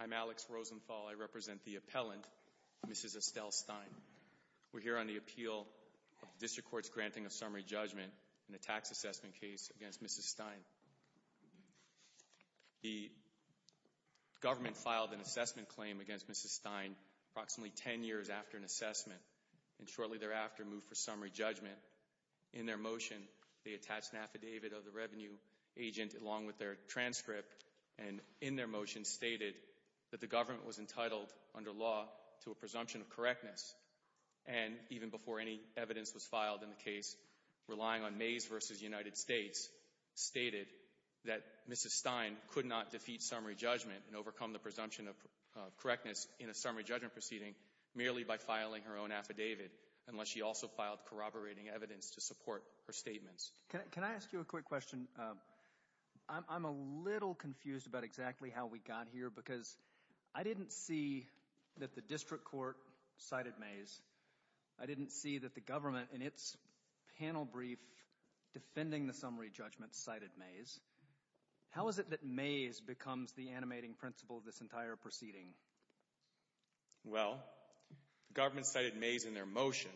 I'm Alex Rosenthal. I represent the appellant, Mrs. Estelle Stein. We're here on the appeal of the District Court's granting of summary judgment in a tax assessment case against Mrs. Stein. The government filed an assessment claim against Mrs. Stein approximately 10 years after an assessment, and shortly thereafter moved for summary judgment. In their motion, they attached an affidavit of the revenue agent along with their transcript, and in their motion stated that the government was entitled, under law, to a presumption of correctness, and even before any evidence was filed in the case, relying on Mays v. United States, stated that Mrs. Stein could not defeat summary judgment and overcome the presumption of correctness in a summary judgment proceeding merely by filing her own affidavit, unless she also filed corroborating evidence to support her statements. Can I ask you a quick question? I'm a little confused about exactly how we got here, because I didn't see that the District Court cited Mays. I didn't see that the government, in its panel brief defending the summary judgment, cited Mays. How is it that Mays becomes the animating principle of this entire proceeding? Well, the government cited Mays in their motion.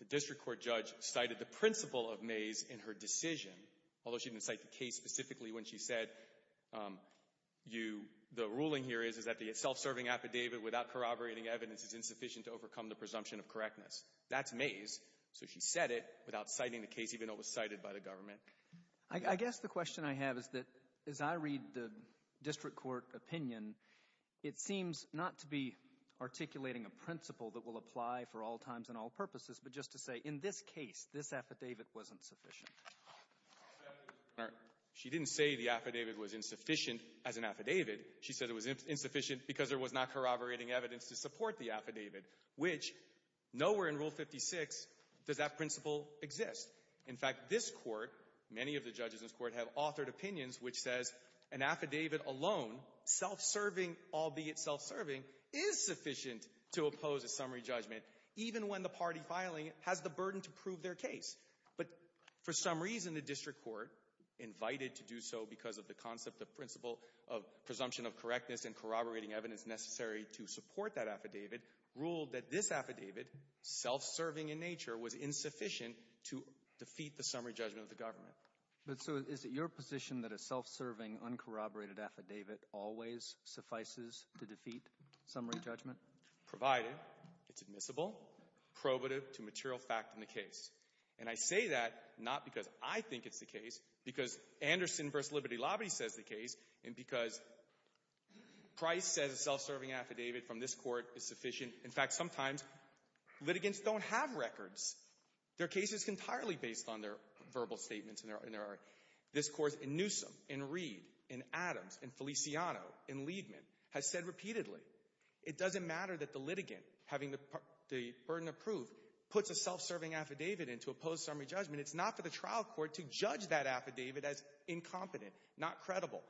The District Court judge cited the principle of Mays in her decision, although she didn't cite the case specifically when she said, the ruling here is that the self-serving affidavit without corroborating evidence is insufficient to overcome the presumption of correctness. That's Mays, so she said it without citing the case, even though it was cited by the government. I guess the question I have is that, as I read the District Court opinion, it seems not to be articulating a principle that will apply for all times and all purposes, but just to say, in this case, this affidavit wasn't sufficient. She didn't say the affidavit was insufficient as an affidavit. She said it was insufficient because there was not corroborating evidence to support the affidavit, which nowhere in Rule 56 does that principle exist. In fact, this Court, many of the judges in this Court have authored opinions which says an affidavit alone, self-serving albeit self-serving, is sufficient to oppose a summary judgment, even when the party filing it has the burden to prove their case. But for some reason, the District Court, invited to do so because of the concept of principle of presumption of correctness and corroborating evidence necessary to support that affidavit, ruled that this affidavit, self-serving in nature, was insufficient to defeat the summary judgment of the government. But so is it your position that a self-serving, uncorroborated affidavit always suffices to defeat summary judgment? Provided it's admissible, probative to material fact in the case. And I say that not because I think it's the case, because Anderson v. Liberty Lobby says the case, and because Price says a self-serving affidavit from this Court is sufficient. In fact, sometimes litigants don't have records. Their case is entirely based on their verbal statements. This Court in Newsom, in Reed, in Adams, in Feliciano, in Liebman, has said repeatedly, it doesn't matter that the litigant, having the burden of proof, puts a self-serving affidavit in to oppose summary judgment. It's not for the trial court to judge that affidavit as incompetent, not credible.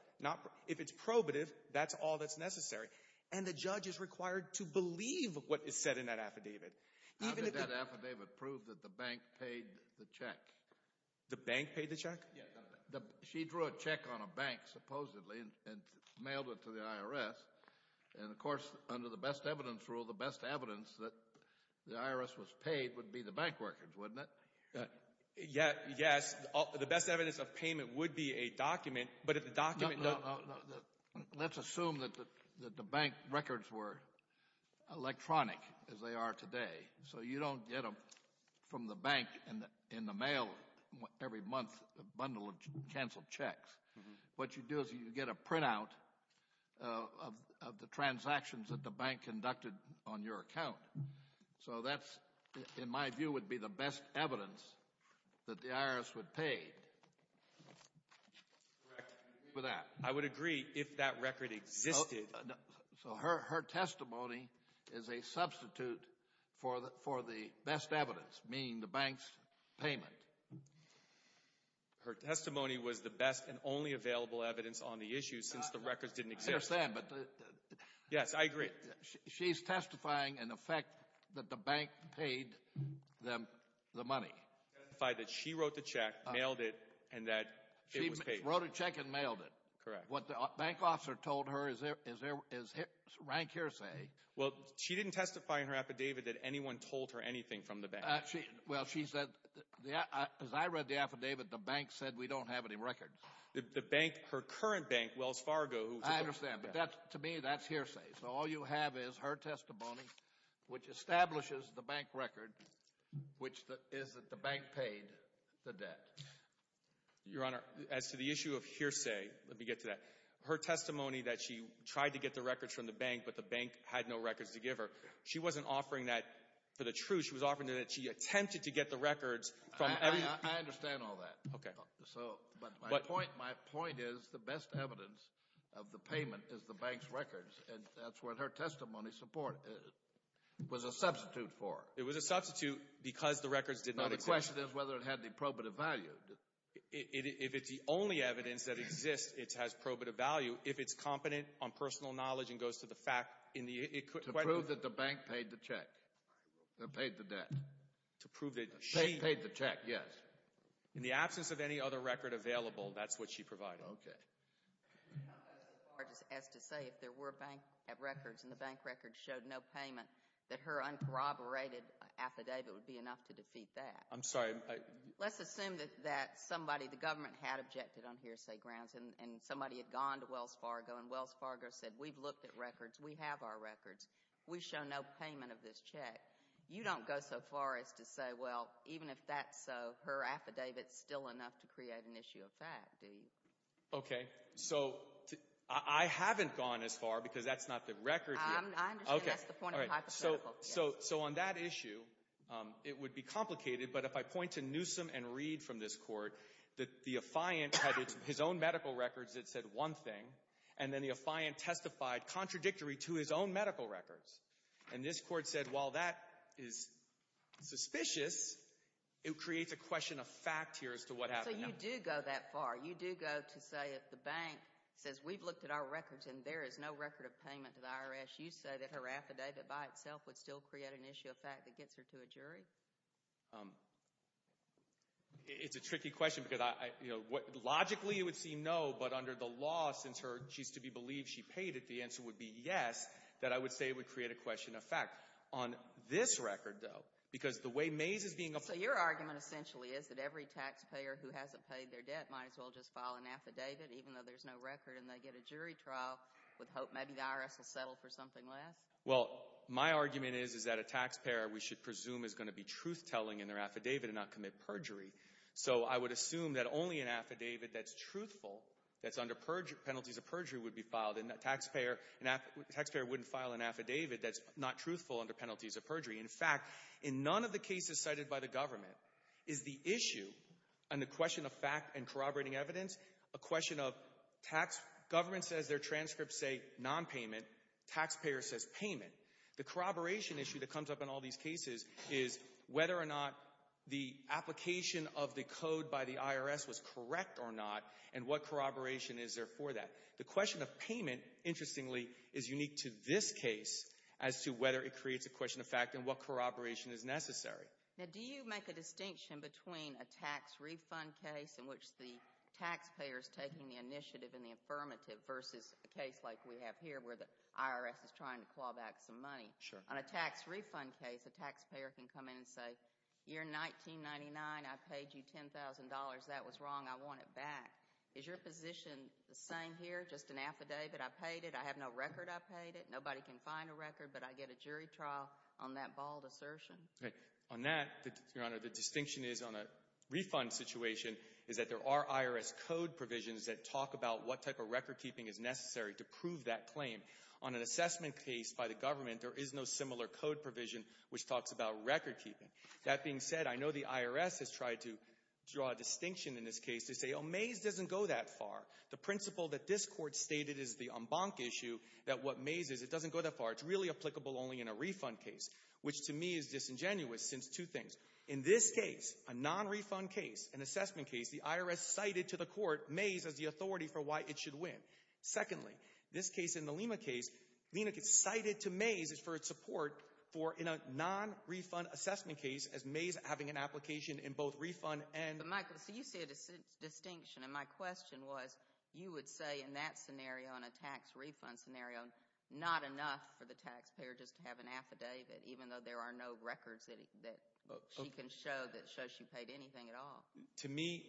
If it's probative, that's all that's necessary. And the judge is required to believe what is said in that affidavit. How did that affidavit prove that the bank paid the check? She drew a check on a bank, supposedly, and mailed it to the IRS. And, of course, under the best evidence rule, the best evidence that the IRS was paid would be the bank records, wouldn't it? Yes, the best evidence of payment would be a document, but if the document— Let's assume that the bank records were electronic, as they are today, so you don't get them from the bank in the mail every month, a bundle of canceled checks. What you do is you get a printout of the transactions that the bank conducted on your account. So that's, in my view, would be the best evidence that the IRS would pay. Correct. I would agree if that record existed. So her testimony is a substitute for the best evidence, meaning the bank's payment. Her testimony was the best and only available evidence on the issue since the records didn't exist. I understand, but— Yes, I agree. She's testifying in effect that the bank paid them the money. She testified that she wrote the check, mailed it, and that it was paid. She wrote a check and mailed it. Correct. What the bank officer told her is rank hearsay. Well, she didn't testify in her affidavit that anyone told her anything from the bank. Well, she said, as I read the affidavit, the bank said we don't have any records. The bank, her current bank, Wells Fargo, who— Your Honor, as to the issue of hearsay, let me get to that. Her testimony that she tried to get the records from the bank, but the bank had no records to give her, she wasn't offering that for the truth. She was offering that she attempted to get the records from— I understand all that. Okay. But my point is the best evidence of the payment is the bank's records, and that's what her testimony was a substitute for. It was a substitute because the records did not exist. But the question is whether it had the probative value. If it's the only evidence that exists, it has probative value. If it's competent on personal knowledge and goes to the fact, it could— To prove that the bank paid the check, paid the debt. To prove that she— Paid the check, yes. In the absence of any other record available, that's what she provided. Okay. As to say if there were bank records and the bank records showed no payment, that her uncorroborated affidavit would be enough to defeat that. I'm sorry. Let's assume that somebody, the government, had objected on hearsay grounds and somebody had gone to Wells Fargo and Wells Fargo said, We've looked at records. We have our records. We show no payment of this check. You don't go so far as to say, well, even if that's so, her affidavit's still enough to create an issue of fact, do you? Okay. So, I haven't gone as far because that's not the record here. I understand that's the point of the hypothetical. So, on that issue, it would be complicated, but if I point to Newsom and Reed from this court, that the affiant had his own medical records that said one thing, and then the affiant testified contradictory to his own medical records. And this court said, while that is suspicious, it creates a question of fact here as to what happened. So, you do go that far. You do go to say if the bank says, We've looked at our records and there is no record of payment to the IRS, you say that her affidavit by itself would still create an issue of fact that gets her to a jury? It's a tricky question because logically it would seem no, but under the law, since she's to be believed she paid it, the answer would be yes, that I would say it would create a question of fact. On this record, though, because the way Mays is being applied— So, your argument essentially is that every taxpayer who hasn't paid their debt might as well just file an affidavit, even though there's no record, and they get a jury trial with hope maybe the IRS will settle for something less? Well, my argument is that a taxpayer, we should presume, is going to be truth-telling in their affidavit and not commit perjury. So, I would assume that only an affidavit that's truthful, that's under penalties of perjury, would be filed, and a taxpayer wouldn't file an affidavit that's not truthful under penalties of perjury. In fact, in none of the cases cited by the government is the issue and the question of fact and corroborating evidence a question of tax—government says their transcripts say nonpayment, taxpayer says payment. The corroboration issue that comes up in all these cases is whether or not the application of the code by the IRS was correct or not, and what corroboration is there for that. The question of payment, interestingly, is unique to this case as to whether it creates a question of fact and what corroboration is necessary. Now, do you make a distinction between a tax refund case in which the taxpayer is taking the initiative in the affirmative versus a case like we have here where the IRS is trying to claw back some money? Sure. On a tax refund case, a taxpayer can come in and say, you're $19.99, I paid you $10,000, that was wrong, I want it back. Is your position the same here, just an affidavit, I paid it, I have no record I paid it, nobody can find a record, but I get a jury trial on that bald assertion? On that, Your Honor, the distinction is on a refund situation is that there are IRS code provisions that talk about what type of recordkeeping is necessary to prove that claim. On an assessment case by the government, there is no similar code provision which talks about recordkeeping. That being said, I know the IRS has tried to draw a distinction in this case to say, oh, Mays doesn't go that far. The principle that this court stated is the en banc issue, that what Mays is, it doesn't go that far. It's really applicable only in a refund case, which to me is disingenuous since two things. In this case, a non-refund case, an assessment case, the IRS cited to the court Mays as the authority for why it should win. Secondly, this case in the Lima case, Lena gets cited to Mays for its support in a non-refund assessment case as Mays having an application in both refund and Michael, so you say a distinction, and my question was, you would say in that scenario, in a tax refund scenario, not enough for the taxpayer just to have an affidavit, even though there are no records that she can show that show she paid anything at all. To me,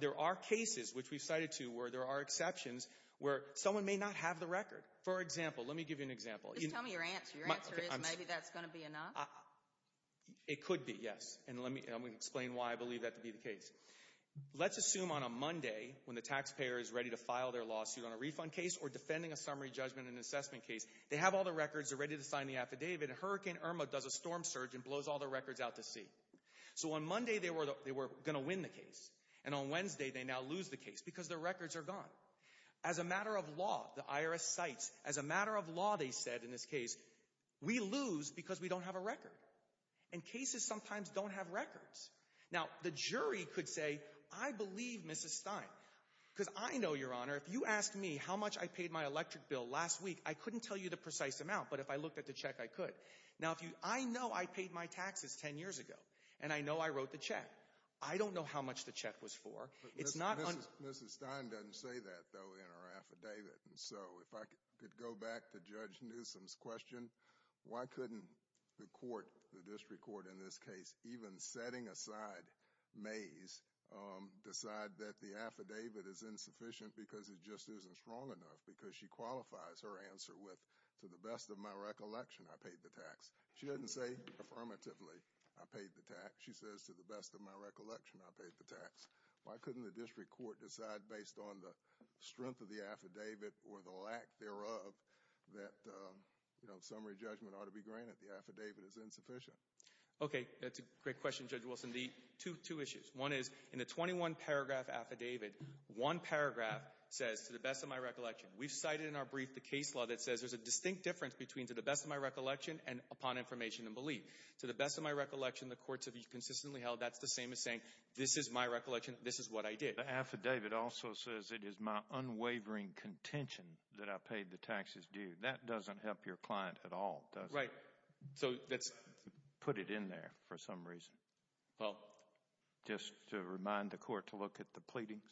there are cases which we've cited to where there are exceptions where someone may not have the record. For example, let me give you an example. Just tell me your answer. Your answer is maybe that's going to be enough? It could be, yes, and let me explain why I believe that to be the case. Let's assume on a Monday when the taxpayer is ready to file their lawsuit on a refund case or defending a summary judgment in an assessment case, they have all the records, they're ready to sign the affidavit, and Hurricane Irma does a storm surge and blows all the records out to sea. So on Monday, they were going to win the case, and on Wednesday, they now lose the case because their records are gone. As a matter of law, the IRS cites, as a matter of law, they said in this case, we lose because we don't have a record. And cases sometimes don't have records. Now, the jury could say, I believe Mrs. Stein, because I know, Your Honor, if you asked me how much I paid my electric bill last week, I couldn't tell you the precise amount, but if I looked at the check, I could. Now, I know I paid my taxes 10 years ago, and I know I wrote the check. I don't know how much the check was for. It's not – Mrs. Stein doesn't say that, though, in her affidavit. And so if I could go back to Judge Newsom's question, why couldn't the court, the district court in this case, even setting aside Mays, decide that the affidavit is insufficient because it just isn't strong enough because she qualifies her answer with, to the best of my recollection, I paid the tax. She doesn't say, affirmatively, I paid the tax. She says, to the best of my recollection, I paid the tax. Why couldn't the district court decide based on the strength of the affidavit or the lack thereof that summary judgment ought to be granted, the affidavit is insufficient? Okay, that's a great question, Judge Wilson. Two issues. One is, in the 21-paragraph affidavit, one paragraph says, to the best of my recollection, We've cited in our brief the case law that says there's a distinct difference between to the best of my recollection and upon information and belief. To the best of my recollection, the courts have consistently held that's the same as saying this is my recollection, this is what I did. The affidavit also says it is my unwavering contention that I paid the taxes due. That doesn't help your client at all, does it? Right. So that's – Put it in there for some reason. Well – Just to remind the court to look at the pleadings.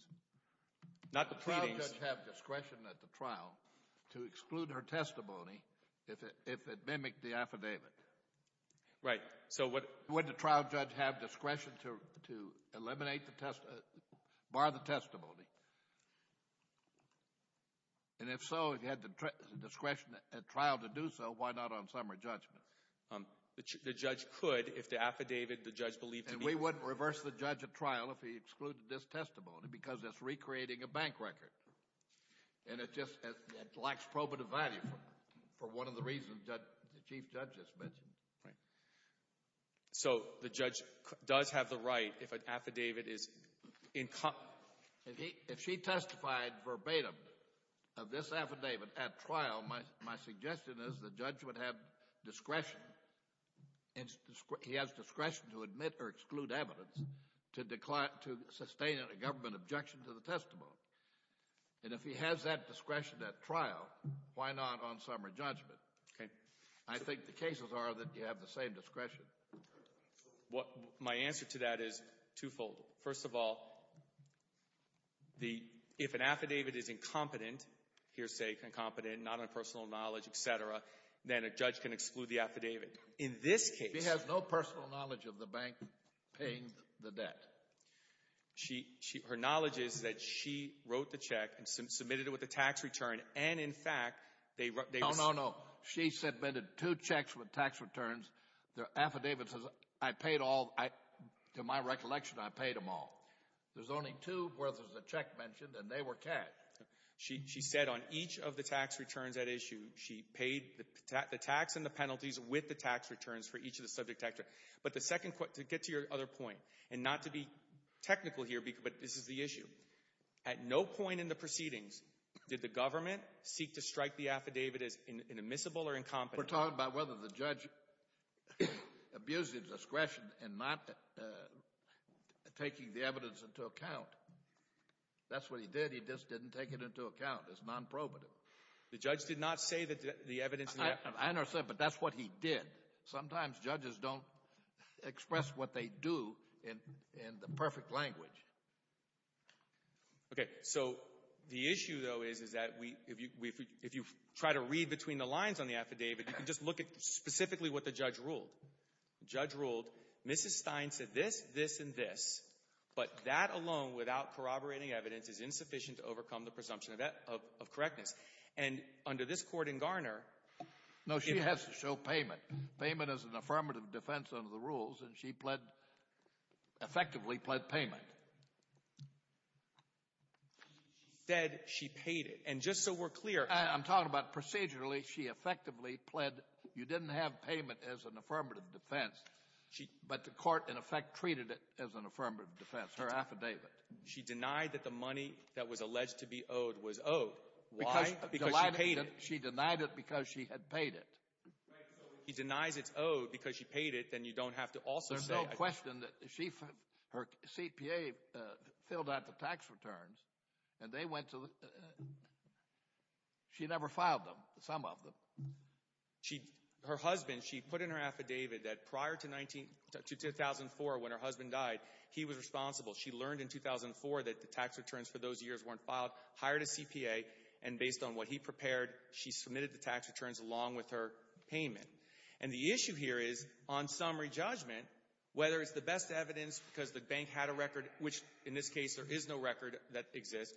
Not the pleadings. Would the trial judge have discretion at the trial to exclude her testimony if it mimicked the affidavit? Right. So would the trial judge have discretion to eliminate the – bar the testimony? And if so, if he had the discretion at trial to do so, why not on summary judgment? The judge could if the affidavit the judge believed to be – And it just lacks probative value for one of the reasons the chief judge just mentioned. Right. So the judge does have the right if an affidavit is – If she testified verbatim of this affidavit at trial, my suggestion is the judge would have discretion. He has discretion to admit or exclude evidence to sustain a government objection to the testimony. And if he has that discretion at trial, why not on summary judgment? Okay. I think the cases are that you have the same discretion. My answer to that is twofold. First of all, if an affidavit is incompetent, hearsay, incompetent, not on personal knowledge, et cetera, then a judge can exclude the affidavit. In this case – She has no personal knowledge of the bank paying the debt. Her knowledge is that she wrote the check and submitted it with a tax return. And, in fact, they – No, no, no. She submitted two checks with tax returns. The affidavit says I paid all – to my recollection, I paid them all. There's only two where there's a check mentioned, and they were cash. She said on each of the tax returns at issue, she paid the tax and the penalties with the tax returns for each of the subject tax returns. But the second – to get to your other point, and not to be technical here, but this is the issue. At no point in the proceedings did the government seek to strike the affidavit as inadmissible or incompetent. We're talking about whether the judge abused his discretion in not taking the evidence into account. That's what he did. He just didn't take it into account. It's nonprobative. The judge did not say that the evidence – I understand, but that's what he did. Sometimes judges don't express what they do in the perfect language. Okay, so the issue, though, is that if you try to read between the lines on the affidavit, you can just look at specifically what the judge ruled. The judge ruled, Mrs. Stein said this, this, and this, but that alone without corroborating evidence is insufficient to overcome the presumption of correctness. And under this court in Garner – No, she has to show payment. Payment is an affirmative defense under the rules, and she pled – effectively pled payment. She said she paid it, and just so we're clear – I'm talking about procedurally she effectively pled – you didn't have payment as an affirmative defense, but the court in effect treated it as an affirmative defense, her affidavit. She denied that the money that was alleged to be owed was owed. Why? Because she paid it. She denied it because she had paid it. Right, so if he denies it's owed because she paid it, then you don't have to also say – She never filed them, some of them. She – her husband, she put in her affidavit that prior to 19 – to 2004 when her husband died, he was responsible. She learned in 2004 that the tax returns for those years weren't filed, hired a CPA, and based on what he prepared, she submitted the tax returns along with her payment. And the issue here is on summary judgment, whether it's the best evidence because the bank had a record, which in this case there is no record that exists,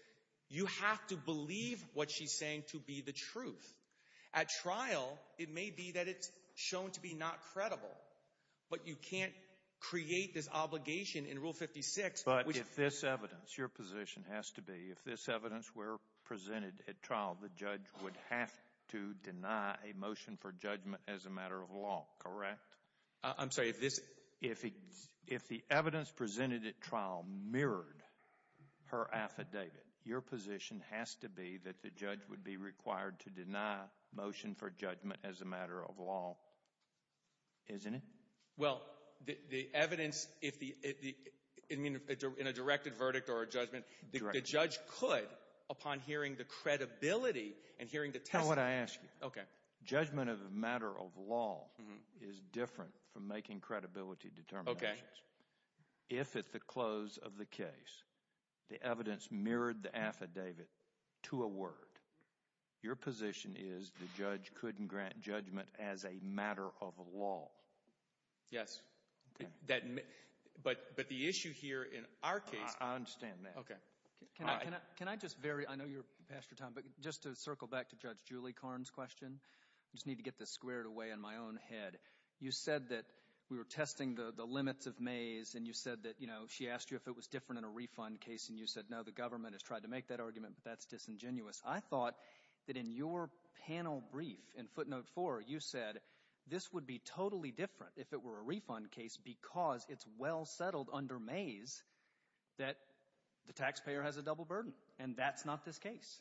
you have to believe what she's saying to be the truth. At trial, it may be that it's shown to be not credible, but you can't create this obligation in Rule 56 which – I'm sorry, if this – If the evidence presented at trial mirrored her affidavit, your position has to be that the judge would be required to deny motion for judgment as a matter of law, isn't it? Well, the evidence – in a directed verdict or a judgment, the judge could, upon hearing the credibility and hearing the testimony – How would I ask you? Okay. Judgment of a matter of law is different from making credibility determinations. Okay. If at the close of the case, the evidence mirrored the affidavit to a word, your position is the judge couldn't grant judgment as a matter of law. Yes. Okay. That – but the issue here in our case – I understand that. Okay. Can I just – I know you're past your time, but just to circle back to Judge Julie Karn's question, I just need to get this squared away in my own head. You said that we were testing the limits of Mays, and you said that she asked you if it was different in a refund case, and you said, no, the government has tried to make that argument, but that's disingenuous. I thought that in your panel brief in footnote four, you said this would be totally different if it were a refund case because it's well settled under Mays that the taxpayer has a double burden, and that's not this case.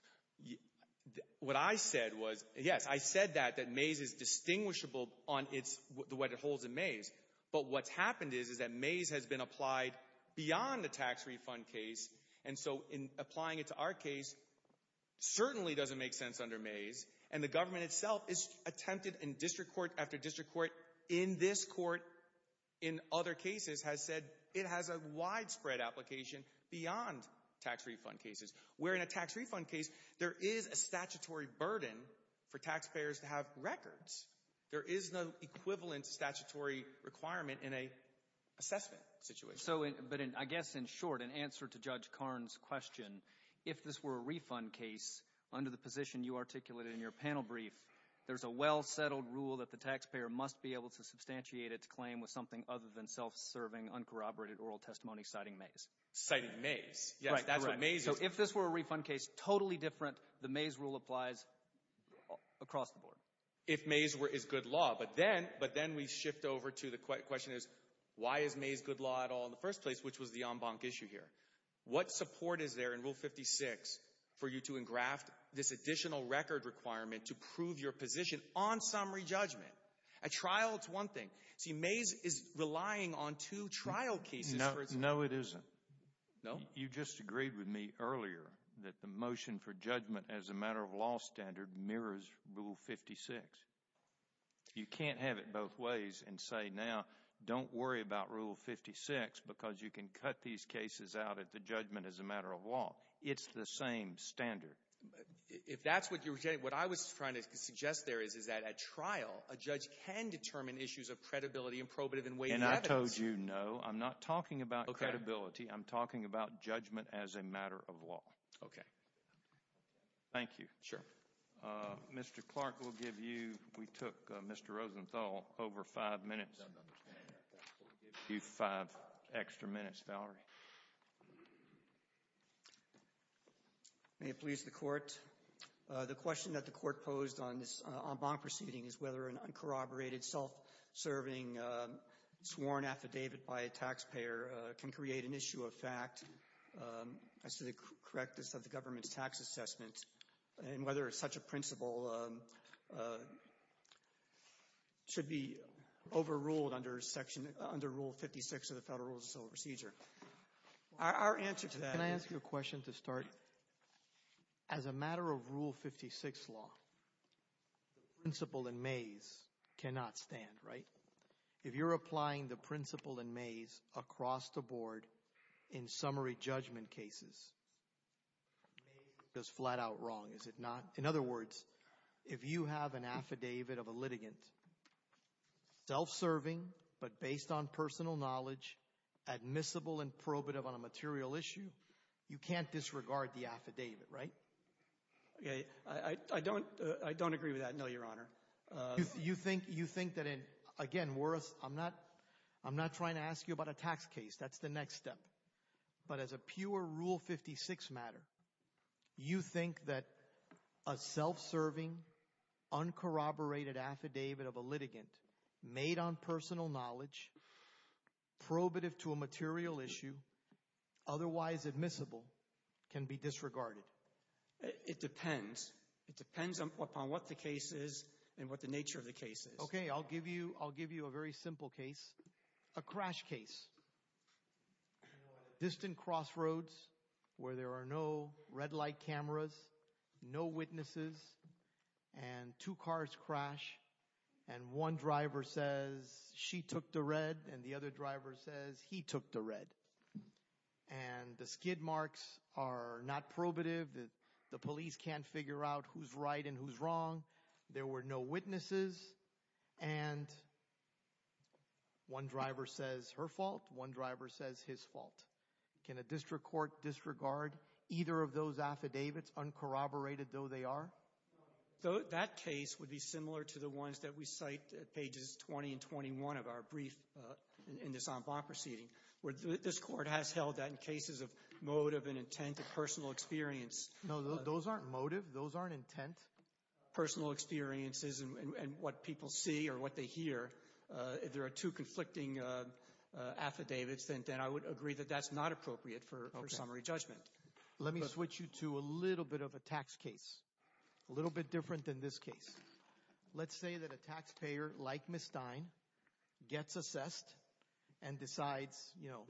What I said was – yes, I said that, that Mays is distinguishable on its – the way it holds in Mays, but what's happened is that Mays has been applied beyond the tax refund case, and so in applying it to our case certainly doesn't make sense under Mays, and the government itself has attempted in district court after district court in this court in other cases has said it has a widespread application beyond tax refund cases. Where in a tax refund case, there is a statutory burden for taxpayers to have records. There is no equivalent statutory requirement in an assessment situation. So, but I guess in short, in answer to Judge Karn's question, if this were a refund case, under the position you articulated in your panel brief, there's a well settled rule that the taxpayer must be able to substantiate its claim with something other than self-serving, uncorroborated oral testimony citing Mays. Citing Mays. Yes, that's what Mays is. So if this were a refund case, totally different, the Mays rule applies across the board. If Mays is good law, but then we shift over to the question is why is Mays good law at all in the first place, which was the en banc issue here. What support is there in Rule 56 for you to engraft this additional record requirement to prove your position on summary judgment? At trial, it's one thing. See, Mays is relying on two trial cases. No, it isn't. No? Well, you just agreed with me earlier that the motion for judgment as a matter of law standard mirrors Rule 56. You can't have it both ways and say now, don't worry about Rule 56 because you can cut these cases out at the judgment as a matter of law. It's the same standard. If that's what you're saying, what I was trying to suggest there is that at trial, a judge can determine issues of credibility and probative and weighty evidence. And I told you no. I'm not talking about credibility. I'm talking about judgment as a matter of law. Okay. Thank you. Sure. Mr. Clark, we took Mr. Rosenthal over five minutes. We'll give you five extra minutes, Valerie. May it please the Court. The question that the Court posed on this en banc proceeding is whether an uncorroborated, self-serving, sworn affidavit by a taxpayer can create an issue of fact as to the correctness of the government's tax assessment and whether such a principle should be overruled under Rule 56 of the Federal Rules of Civil Procedure. Our answer to that is... Can I ask you a question to start? As a matter of Rule 56 law, the principle in Mays cannot stand, right? If you're applying the principle in Mays across the board in summary judgment cases, Mays goes flat out wrong, is it not? In other words, if you have an affidavit of a litigant, self-serving but based on personal knowledge, admissible and probative on a material issue, you can't disregard the affidavit, right? I don't agree with that, no, Your Honor. You think that, again, I'm not trying to ask you about a tax case. That's the next step. But as a pure Rule 56 matter, you think that a self-serving, uncorroborated affidavit of a litigant made on personal knowledge, probative to a material issue, otherwise admissible, can be disregarded? It depends. It depends upon what the case is and what the nature of the case is. Okay, I'll give you a very simple case. A crash case. Distant crossroads where there are no red light cameras, no witnesses, and two cars crash. And one driver says she took the red and the other driver says he took the red. And the skid marks are not probative. The police can't figure out who's right and who's wrong. There were no witnesses. And one driver says her fault. One driver says his fault. Can a district court disregard either of those affidavits, uncorroborated though they are? That case would be similar to the ones that we cite at pages 20 and 21 of our brief in this en banc proceeding. This court has held that in cases of motive and intent and personal experience. No, those aren't motive. Those aren't intent. Personal experiences and what people see or what they hear. If there are two conflicting affidavits, then I would agree that that's not appropriate for summary judgment. But let me switch you to a little bit of a tax case. A little bit different than this case. Let's say that a taxpayer like Ms. Stein gets assessed and decides, you know,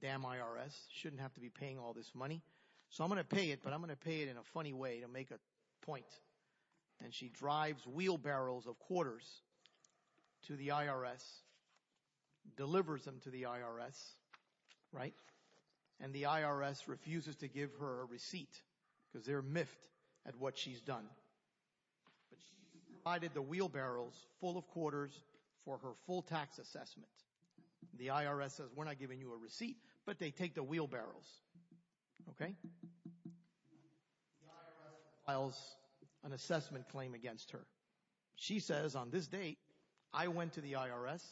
damn IRS, shouldn't have to be paying all this money. So I'm going to pay it, but I'm going to pay it in a funny way to make a point. And she drives wheelbarrows of quarters to the IRS, delivers them to the IRS, right? And the IRS refuses to give her a receipt because they're miffed at what she's done. But she's provided the wheelbarrows full of quarters for her full tax assessment. The IRS says we're not giving you a receipt, but they take the wheelbarrows. OK. The IRS files an assessment claim against her. She says on this date, I went to the IRS.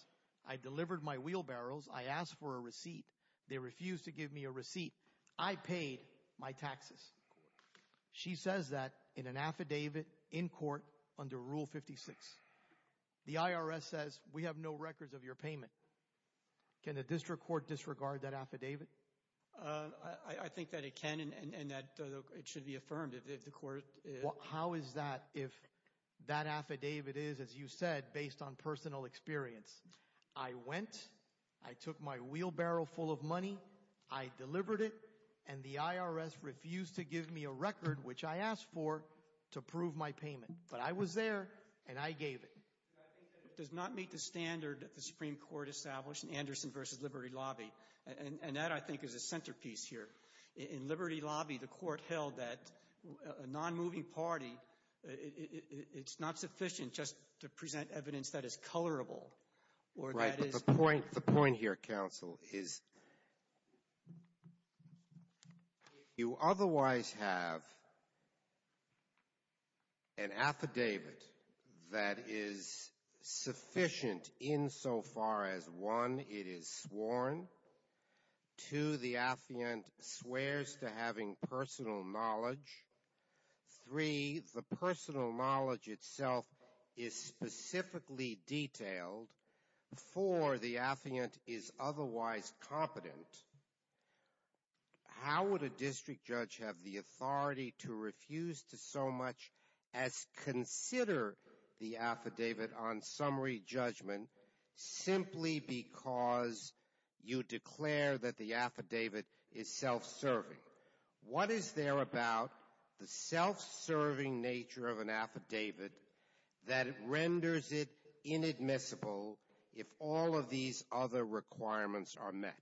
They refused to give me a receipt. I paid my taxes. She says that in an affidavit in court under Rule 56. The IRS says we have no records of your payment. Can the district court disregard that affidavit? I think that it can and that it should be affirmed if the court. How is that if that affidavit is, as you said, based on personal experience? I went. I took my wheelbarrow full of money. I delivered it. And the IRS refused to give me a record, which I asked for, to prove my payment. But I was there, and I gave it. I think that it does not meet the standard that the Supreme Court established in Anderson v. Liberty Lobby. And that, I think, is a centerpiece here. In Liberty Lobby, the court held that a non-moving party, it's not sufficient just to present evidence that is colorable. Right, but the point here, counsel, is if you otherwise have an affidavit that is sufficient insofar as, one, it is sworn, two, the affidavit swears to having personal knowledge, three, the personal knowledge itself is specifically detailed, four, the affidavit is otherwise competent, how would a district judge have the authority to refuse to so much as consider the affidavit on summary judgment simply because you declare that the affidavit is self-serving? What is there about the self-serving nature of an affidavit that renders it inadmissible if all of these other requirements are met?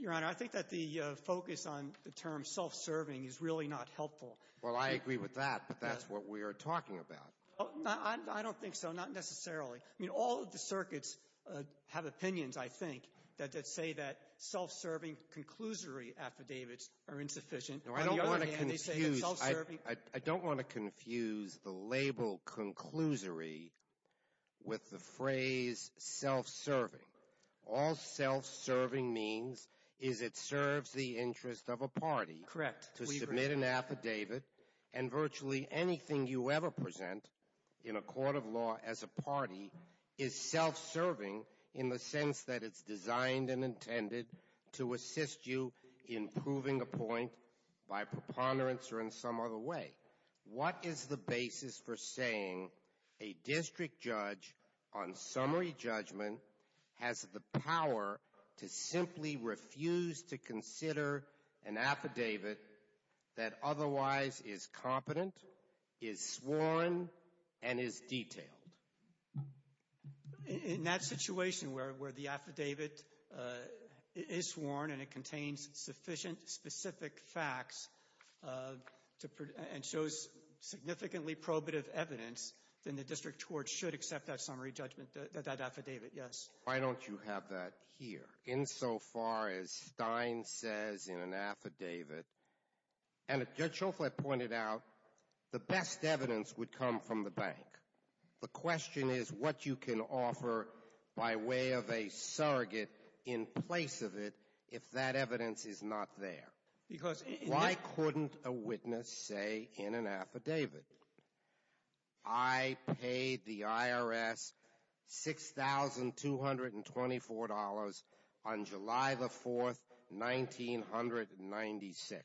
Your Honor, I think that the focus on the term self-serving is really not helpful. Well, I agree with that, but that's what we are talking about. I don't think so, not necessarily. I mean, all of the circuits have opinions, I think, that say that self-serving conclusory affidavits are insufficient. No, I don't want to confuse the label conclusory with the phrase self-serving. All self-serving means is it serves the interest of a party to submit an affidavit, and virtually anything you ever present in a court of law as a party is self-serving in the sense that it's designed and intended to assist you in proving a point by preponderance or in some other way. What is the basis for saying a district judge on summary judgment has the power to simply refuse to consider an affidavit that otherwise is competent, is sworn, and is detailed? In that situation where the affidavit is sworn and it contains sufficient specific facts and shows significantly probative evidence, then the district court should accept that summary judgment, that affidavit, yes. Why don't you have that here, insofar as Stein says in an affidavit, and as Judge Schofield pointed out, the best evidence would come from the bank. The question is what you can offer by way of a surrogate in place of it if that evidence is not there. Why couldn't a witness say in an affidavit, I paid the IRS $6,224 on July the 4th, 1996.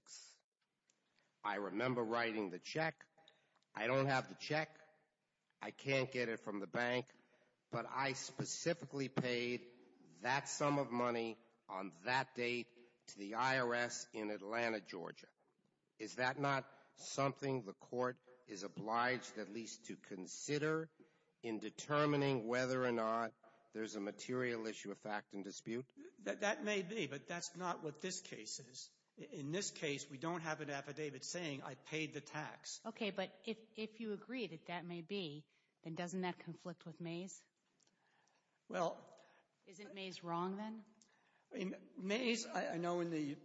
I remember writing the check. I don't have the check. I can't get it from the bank. But I specifically paid that sum of money on that date to the IRS in Atlanta, Georgia. Is that not something the court is obliged at least to consider in determining whether or not there's a material issue of fact in dispute? That may be, but that's not what this case is. In this case, we don't have an affidavit saying I paid the tax. Okay, but if you agree that that may be, then doesn't that conflict with Mays? Isn't Mays wrong then? Mays, I know in the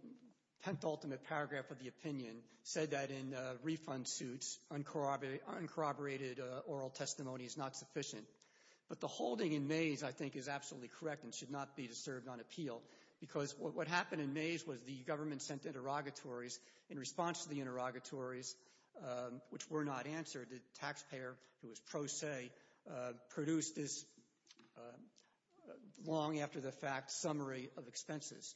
10th ultimate paragraph of the opinion, said that in refund suits, uncorroborated oral testimony is not sufficient. But the holding in Mays, I think, is absolutely correct and should not be disturbed on appeal. Because what happened in Mays was the government sent interrogatories. In response to the interrogatories, which were not answered, the taxpayer, who was pro se, produced this long-after-the-fact summary of expenses.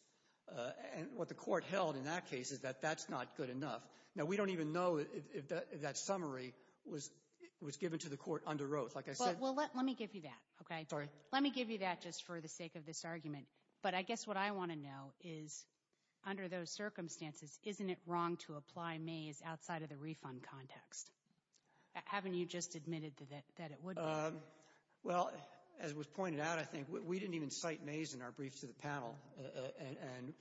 And what the court held in that case is that that's not good enough. Now, we don't even know if that summary was given to the court under oath. Well, let me give you that, okay? Let me give you that just for the sake of this argument. But I guess what I want to know is, under those circumstances, isn't it wrong to apply Mays outside of the refund context? Haven't you just admitted that it would be? Well, as was pointed out, I think, we didn't even cite Mays in our brief to the panel. And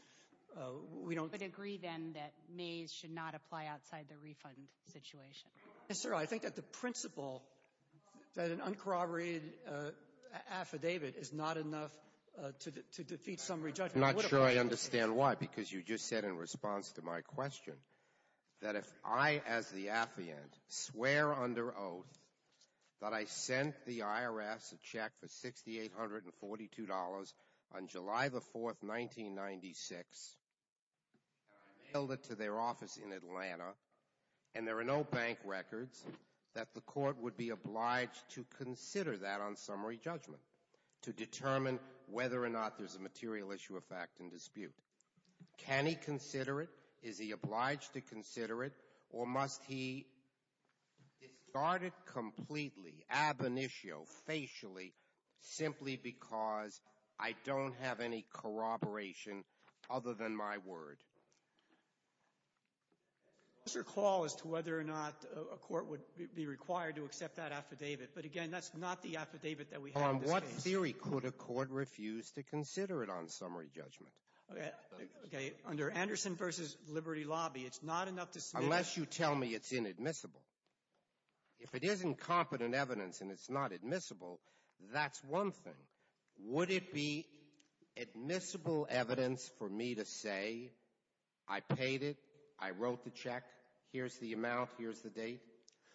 we don't agree then that Mays should not apply outside the refund situation. And, sir, I think that the principle that an uncorroborated affidavit is not enough to defeat summary judgment. I'm not sure I understand why, because you just said in response to my question that if I, as the affiant, swear under oath that I sent the IRS a check for $6,842 on July the 4th, 1996, and I mailed it to their office in Atlanta, and there are no bank records, that the court would be obliged to consider that on summary judgment to determine whether or not there's a material issue of fact in dispute. Can he consider it? Is he obliged to consider it? Or must he discard it completely, ab initio, facially, simply because I don't have any corroboration other than my word? That's your call as to whether or not a court would be required to accept that affidavit. But, again, that's not the affidavit that we have in this case. On what theory could a court refuse to consider it on summary judgment? Okay, under Anderson v. Liberty Lobby, it's not enough to smear. Unless you tell me it's inadmissible. If it isn't competent evidence and it's not admissible, that's one thing. Would it be admissible evidence for me to say I paid it, I wrote the check, here's the amount, here's the date,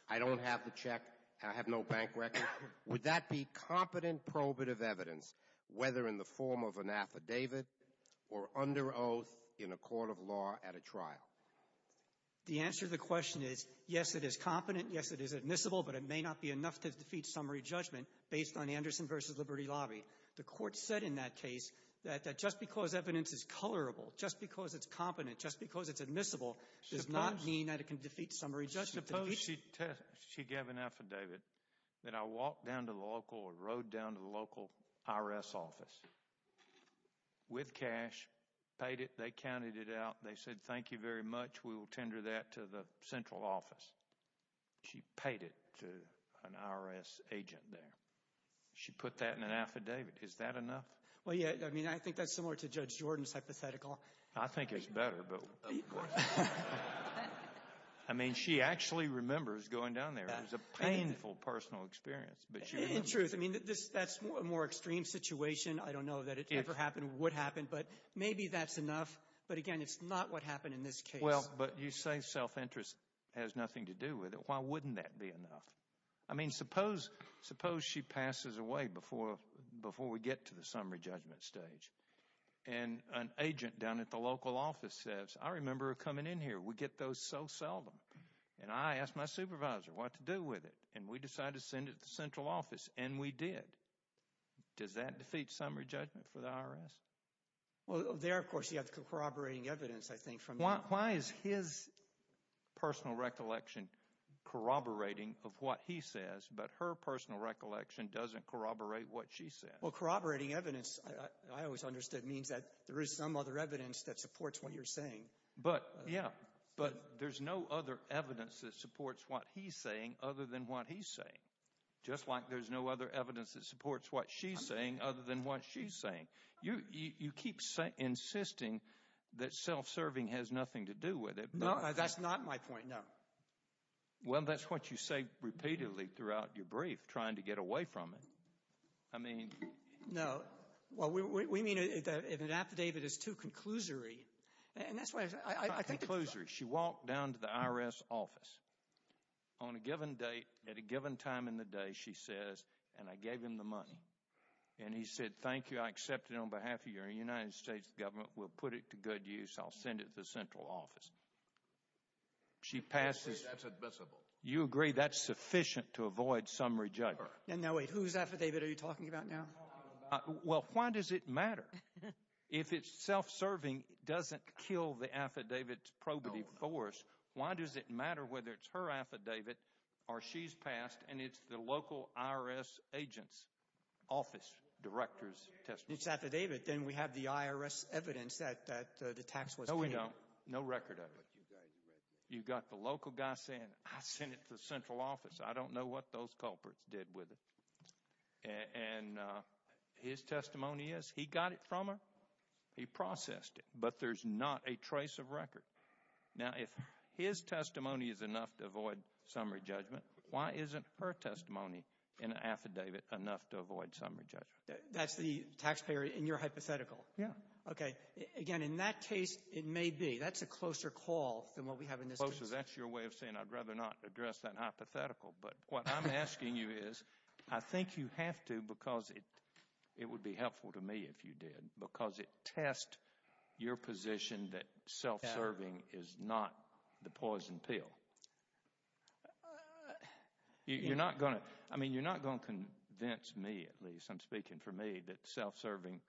I don't have the check, and I have no bank record? Would that be competent probative evidence, whether in the form of an affidavit or under oath in a court of law at a trial? The answer to the question is, yes, it is competent, yes, it is admissible, but it may not be enough to defeat summary judgment based on Anderson v. Liberty Lobby. The court said in that case that just because evidence is colorable, just because it's competent, just because it's admissible, does not mean that it can defeat summary judgment. Suppose she gave an affidavit that I walked down to the local or rode down to the local IRS office with cash, paid it, they counted it out, they said thank you very much, we will tender that to the central office. She paid it to an IRS agent there. She put that in an affidavit. Is that enough? Well, yeah, I mean, I think that's similar to Judge Jordan's hypothetical. I think it's better, but of course. I mean, she actually remembers going down there. It was a painful personal experience. In truth, I mean, that's a more extreme situation. I don't know that it ever happened, would happen, but maybe that's enough. But again, it's not what happened in this case. Well, but you say self-interest has nothing to do with it. Why wouldn't that be enough? I mean, suppose she passes away before we get to the summary judgment stage, and an agent down at the local office says, I remember her coming in here. We get those so seldom, and I asked my supervisor what to do with it, and we decided to send it to the central office, and we did. Does that defeat summary judgment for the IRS? Well, there, of course, you have corroborating evidence, I think. Why is his personal recollection corroborating of what he says, but her personal recollection doesn't corroborate what she says? Well, corroborating evidence, I always understood, means that there is some other evidence that supports what you're saying. But, yeah, but there's no other evidence that supports what he's saying other than what he's saying, just like there's no other evidence that supports what she's saying other than what she's saying. You keep insisting that self-serving has nothing to do with it. No, that's not my point, no. Well, that's what you say repeatedly throughout your brief, trying to get away from it. I mean— No, well, we mean if an affidavit is too conclusory, and that's why I think— It's not conclusory. She walked down to the IRS office. On a given date, at a given time in the day, she says, and I gave him the money, and he said, thank you, I accept it on behalf of your United States government. We'll put it to good use. I'll send it to the central office. She passes— I agree that's admissible. You agree that's sufficient to avoid summary judgment. And now wait, whose affidavit are you talking about now? Well, why does it matter? If it's self-serving, it doesn't kill the affidavit's probity force. Why does it matter whether it's her affidavit or she's passed, and it's the local IRS agent's office director's testimony? It's affidavit. Then we have the IRS evidence that the tax was paid. No, we don't. No record of it. You've got the local guy saying, I sent it to the central office. I don't know what those culprits did with it. And his testimony is he got it from her. He processed it. But there's not a trace of record. Now, if his testimony is enough to avoid summary judgment, why isn't her testimony in an affidavit enough to avoid summary judgment? That's the taxpayer in your hypothetical? Yeah. Okay. Again, in that case, it may be. That's a closer call than what we have in this case. Closer. That's your way of saying, I'd rather not address that hypothetical, but what I'm asking you is I think you have to because it would be helpful to me if you did, because it tests your position that self-serving is not the poison pill. You're not going to convince me, at least, I'm speaking for me, that self-serving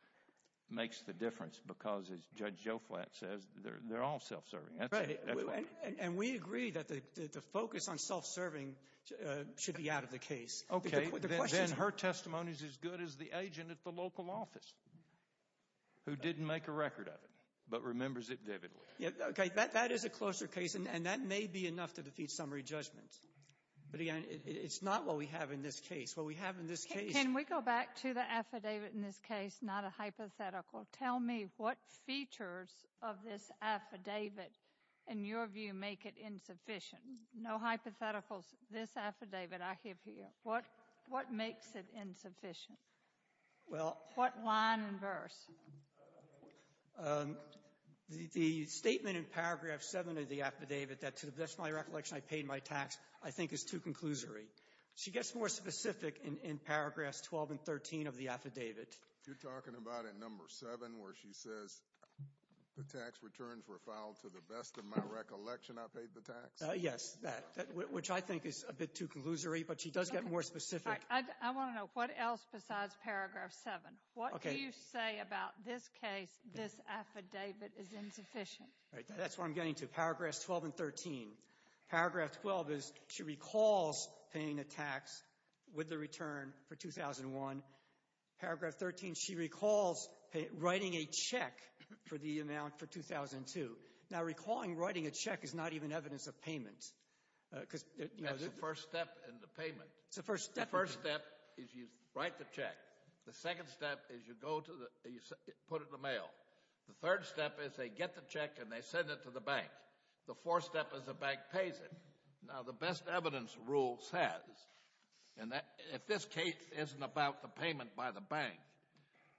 makes the difference because, as Judge Joflat says, they're all self-serving. And we agree that the focus on self-serving should be out of the case. Okay. Then her testimony is as good as the agent at the local office who didn't make a record of it but remembers it vividly. Okay. That is a closer case, and that may be enough to defeat summary judgment. But, again, it's not what we have in this case. What we have in this case— Can we go back to the affidavit in this case, not a hypothetical? Tell me what features of this affidavit, in your view, make it insufficient? No hypotheticals. This affidavit I have here, what makes it insufficient? Well— What line and verse? The statement in paragraph 7 of the affidavit that, to the best of my recollection, I paid my tax, I think is too conclusory. She gets more specific in paragraphs 12 and 13 of the affidavit. You're talking about in number 7 where she says the tax returns were filed to the best of my recollection I paid the tax? Yes, that, which I think is a bit too conclusory, but she does get more specific. I want to know, what else besides paragraph 7? What do you say about this case, this affidavit is insufficient? That's what I'm getting to, paragraphs 12 and 13. Paragraph 12 is she recalls paying a tax with the return for 2001. Paragraph 13, she recalls writing a check for the amount for 2002. Now, recalling writing a check is not even evidence of payment because— That's the first step in the payment. It's the first step. The first step is you write the check. The second step is you go to the — you put it in the mail. The third step is they get the check and they send it to the bank. The fourth step is the bank pays it. Now, the best evidence rule says, and if this case isn't about the payment by the bank,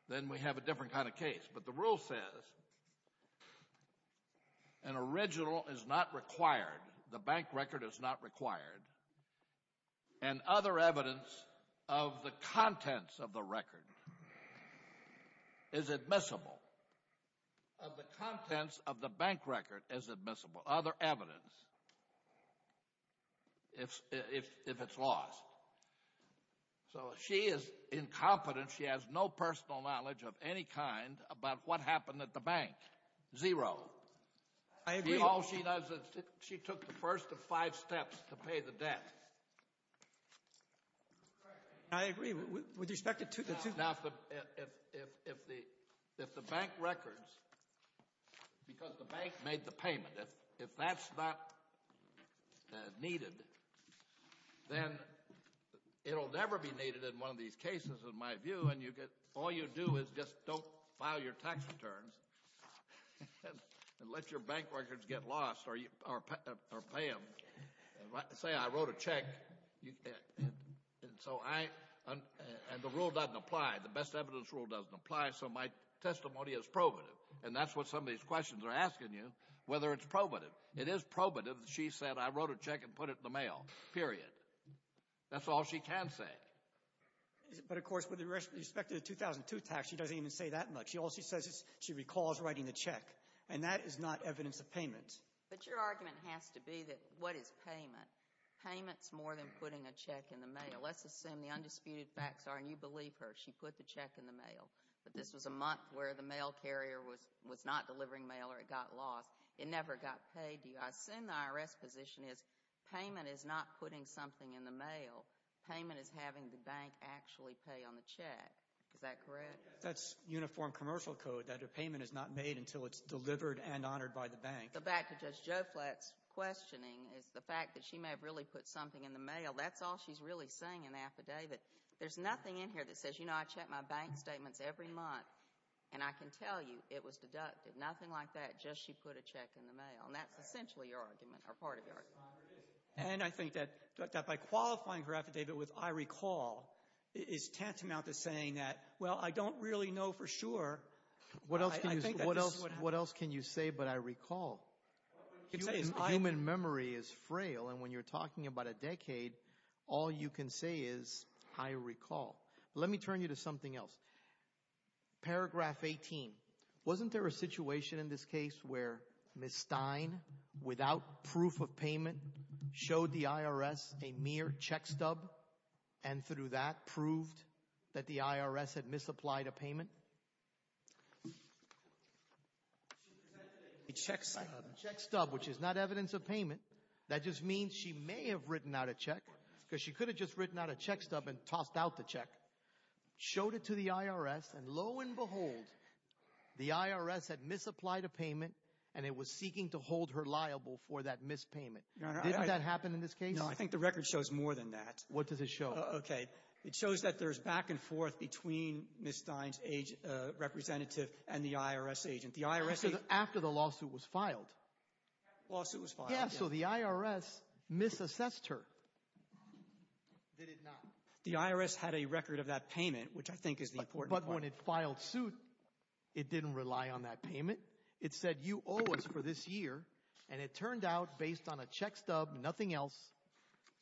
then we have a different kind of case, but the rule says, an original is not required, the bank record is not required, and other evidence of the contents of the record is admissible. Of the contents of the bank record is admissible. Other evidence, if it's lost. So she is incompetent. She has no personal knowledge of any kind about what happened at the bank. Zero. I agree. All she does is she took the first of five steps to pay the debt. I agree. Now, if the bank records, because the bank made the payment, if that's not needed, then it will never be needed in one of these cases, in my view, and all you do is just don't file your tax returns and let your bank records get lost or pay them. Say I wrote a check, and the rule doesn't apply. The best evidence rule doesn't apply, so my testimony is probative, and that's what some of these questions are asking you, whether it's probative. It is probative that she said, I wrote a check and put it in the mail, period. That's all she can say. But, of course, with respect to the 2002 tax, she doesn't even say that much. All she says is she recalls writing the check, and that is not evidence of payment. But your argument has to be that what is payment? Payment is more than putting a check in the mail. Let's assume the undisputed facts are, and you believe her, she put the check in the mail, but this was a month where the mail carrier was not delivering mail or it got lost. It never got paid to you. I assume the IRS position is payment is not putting something in the mail. Payment is having the bank actually pay on the check. Is that correct? That's uniform commercial code, that a payment is not made until it's delivered and honored by the bank. The fact that Judge Joflat's questioning is the fact that she may have really put something in the mail, that's all she's really saying in the affidavit. There's nothing in here that says, you know, I check my bank statements every month, and I can tell you it was deducted. Nothing like that, just she put a check in the mail. And that's essentially your argument or part of your argument. And I think that by qualifying her affidavit with I recall is tantamount to saying that, well, I don't really know for sure. What else can you say but I recall? Human memory is frail, and when you're talking about a decade, all you can say is I recall. Let me turn you to something else. Paragraph 18, wasn't there a situation in this case where Ms. Stein, without proof of payment, showed the IRS a mere check stub and through that proved that the IRS had misapplied a payment? A check stub, which is not evidence of payment. That just means she may have written out a check because she could have just written out a check stub and tossed out the check, showed it to the IRS, and lo and behold, the IRS had misapplied a payment and it was seeking to hold her liable for that mispayment. Didn't that happen in this case? No, I think the record shows more than that. What does it show? Okay, it shows that there's back and forth between Ms. Stein's representative and the IRS agent. After the lawsuit was filed. Lawsuit was filed. Yeah, so the IRS misassessed her. They did not. The IRS had a record of that payment, which I think is the important part. When it filed suit, it didn't rely on that payment. It said you owe us for this year, and it turned out based on a check stub, nothing else,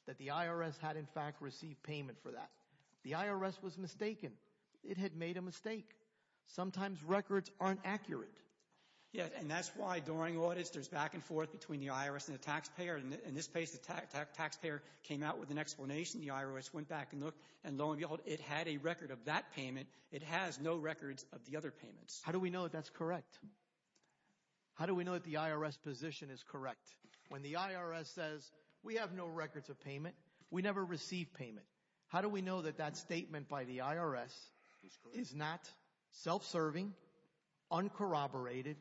that the IRS had in fact received payment for that. The IRS was mistaken. It had made a mistake. Sometimes records aren't accurate. Yeah, and that's why during audits there's back and forth between the IRS and the taxpayer. In this case, the taxpayer came out with an explanation. The IRS went back and lo and behold, it had a record of that payment. It has no records of the other payments. How do we know that that's correct? How do we know that the IRS position is correct? When the IRS says, we have no records of payment, we never received payment, how do we know that that statement by the IRS is not self-serving, uncorroborated,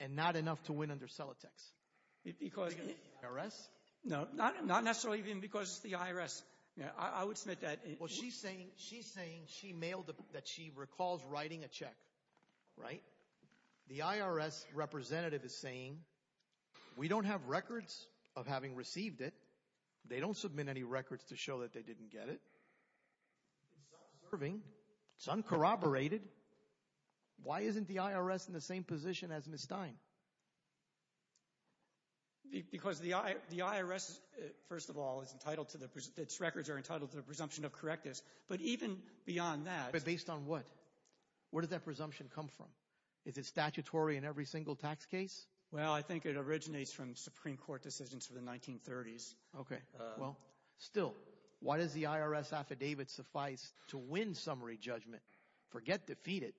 and not enough to win under Celotex? IRS? No, not necessarily even because it's the IRS. I would submit that. Well, she's saying she mailed that she recalls writing a check, right? The IRS representative is saying, we don't have records of having received it. They don't submit any records to show that they didn't get it. It's self-serving. It's uncorroborated. Why isn't the IRS in the same position as Ms. Stein? Because the IRS, first of all, its records are entitled to the presumption of correctness, but even beyond that. But based on what? Where did that presumption come from? Is it statutory in every single tax case? Well, I think it originates from Supreme Court decisions from the 1930s. Okay. Well, still, why does the IRS affidavit suffice to win summary judgment? Forget defeat it.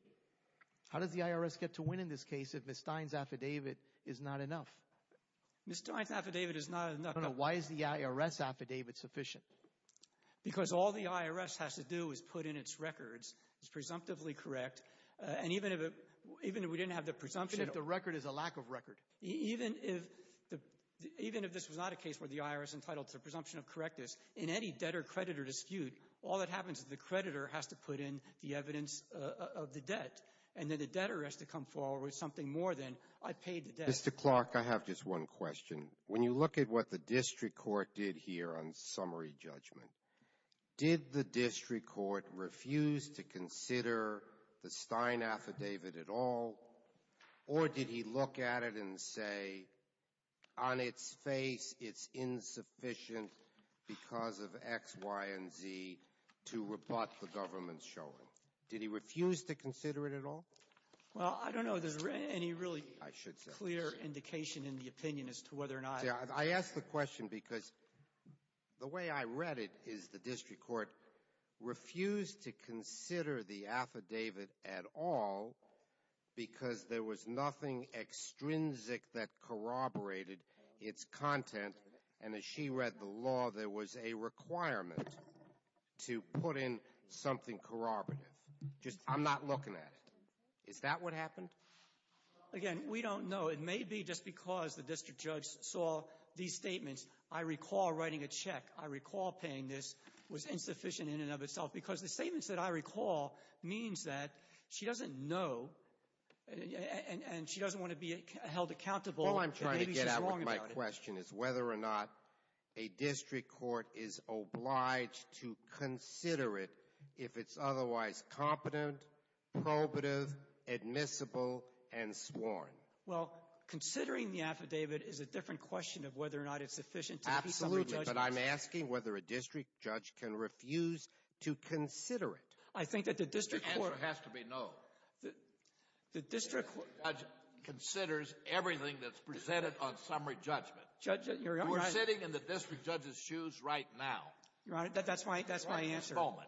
How does the IRS get to win in this case if Ms. Stein's affidavit is not enough? Ms. Stein's affidavit is not enough. Why is the IRS affidavit sufficient? Because all the IRS has to do is put in its records. It's presumptively correct. And even if we didn't have the presumption. Even if the record is a lack of record. Even if this was not a case where the IRS entitled to a presumption of correctness, in any debtor-creditor dispute, all that happens is the creditor has to put in the evidence of the debt. And then the debtor has to come forward with something more than I paid the debt. Mr. Clark, I have just one question. When you look at what the district court did here on summary judgment, did the district court refuse to consider the Stein affidavit at all, or did he look at it and say, on its face it's insufficient because of X, Y, and Z to rebut the government's showing? Did he refuse to consider it at all? Well, I don't know if there's any really clear indication in the opinion as to whether or not. I ask the question because the way I read it is the district court refused to consider the affidavit at all because there was nothing extrinsic that corroborated its content. And as she read the law, there was a requirement to put in something corroborative. I'm not looking at it. Is that what happened? Again, we don't know. It may be just because the district judge saw these statements. I recall writing a check. I recall paying this. It was insufficient in and of itself. Because the statements that I recall means that she doesn't know and she doesn't want to be held accountable. All I'm trying to get at with my question is whether or not a district court is obliged to consider it if it's otherwise competent, probative, admissible, and sworn. Well, considering the affidavit is a different question of whether or not it's sufficient to be summary judgment. But I'm asking whether a district judge can refuse to consider it. I think that the district court — The answer has to be no. The district court — The district judge considers everything that's presented on summary judgment. Judge, you're — We're sitting in the district judge's shoes right now. Your Honor, that's my answer. At this moment.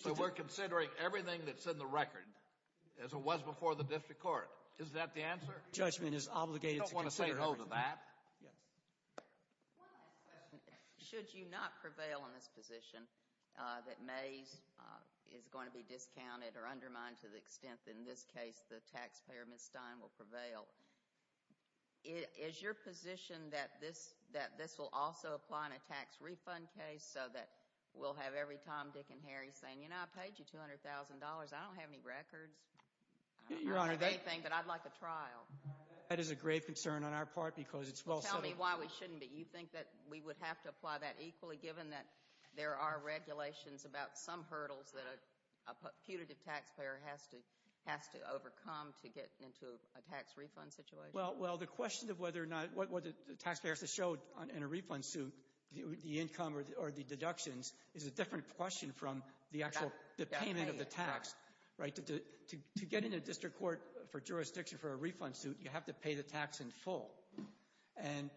So we're considering everything that's in the record as it was before the district court. Is that the answer? Judgment is obligated to consider everything. You don't want to say no to that. Yes. One last question. Should you not prevail in this position that Mays is going to be discounted or undermined to the extent that in this case the taxpayer, Ms. Stein, will prevail? Is your position that this will also apply in a tax refund case so that we'll have every Tom, Dick, and Harry saying, you know, I paid you $200,000. I don't have any records. I don't have anything, but I'd like a trial. That is a grave concern on our part because it's well — Tell me why we shouldn't be. You think that we would have to apply that equally given that there are regulations about some hurdles that a putative taxpayer has to overcome to get into a tax refund situation? Well, the question of whether or not — what the taxpayer has to show in a refund suit, the income or the deductions, is a different question from the actual payment of the tax. To get into district court for jurisdiction for a refund suit, you have to pay the tax in full. And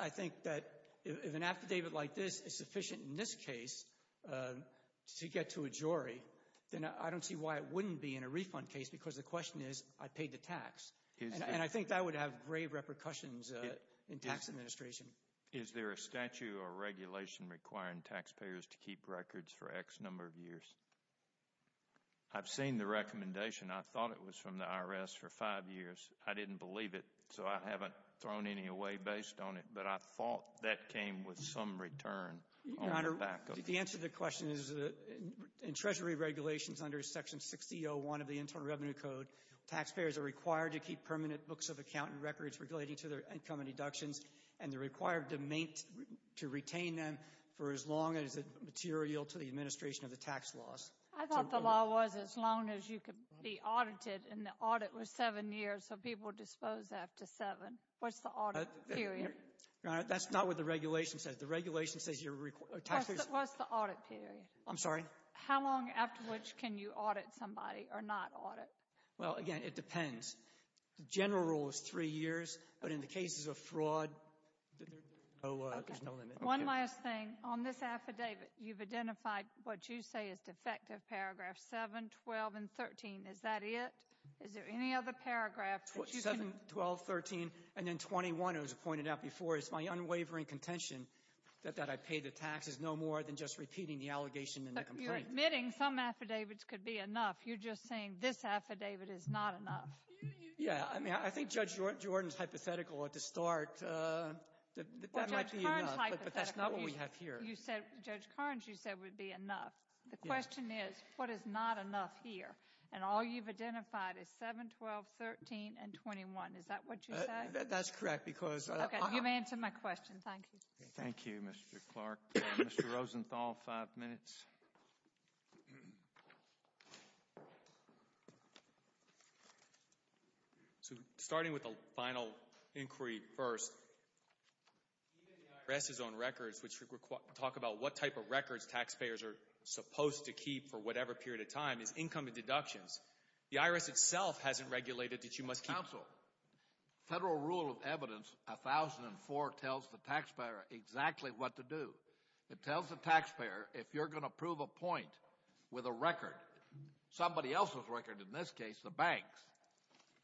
I think that if an affidavit like this is sufficient in this case to get to a jury, then I don't see why it wouldn't be in a refund case because the question is, I paid the tax. And I think that would have grave repercussions in tax administration. Is there a statute or regulation requiring taxpayers to keep records for X number of years? I've seen the recommendation. I thought it was from the IRS for five years. I didn't believe it, so I haven't thrown any away based on it, but I thought that came with some return on the back of it. Your Honor, the answer to the question is, in Treasury regulations under Section 6001 of the Internal Revenue Code, taxpayers are required to keep permanent books of account and records relating to their income and deductions, and they're required to retain them for as long as it's material to the administration of the tax laws. I thought the law was as long as you could be audited, and the audit was seven years, so people are disposed after seven. What's the audit period? Your Honor, that's not what the regulation says. The regulation says you're tax— What's the audit period? I'm sorry? How long after which can you audit somebody or not audit? Well, again, it depends. The general rule is three years, but in the cases of fraud, there's no limit. One last thing. On this affidavit, you've identified what you say is defective paragraph 7, 12, and 13. Is that it? Is there any other paragraph that you can— Seven, 12, 13, and then 21, as I pointed out before, is my unwavering contention that I pay the taxes no more than just repeating the allegation in the complaint. You're admitting some affidavits could be enough. You're just saying this affidavit is not enough. Yeah. I mean, I think Judge Jordan's hypothetical at the start, that that might be enough, but that's not what we have here. Judge Kearns, you said would be enough. The question is, what is not enough here? And all you've identified is 7, 12, 13, and 21. Is that what you said? That's correct, because— Okay. You've answered my question. Thank you. Thank you, Mr. Clark. Mr. Rosenthal, five minutes. So, starting with the final inquiry first, even the IRS's own records, which talk about what type of records taxpayers are supposed to keep for whatever period of time, is income and deductions. The IRS itself hasn't regulated that you must keep— Counsel, federal rule of evidence 1004 tells the taxpayer exactly what to do. It tells the taxpayer if you're going to prove a point with a record, somebody else's record, in this case the bank's,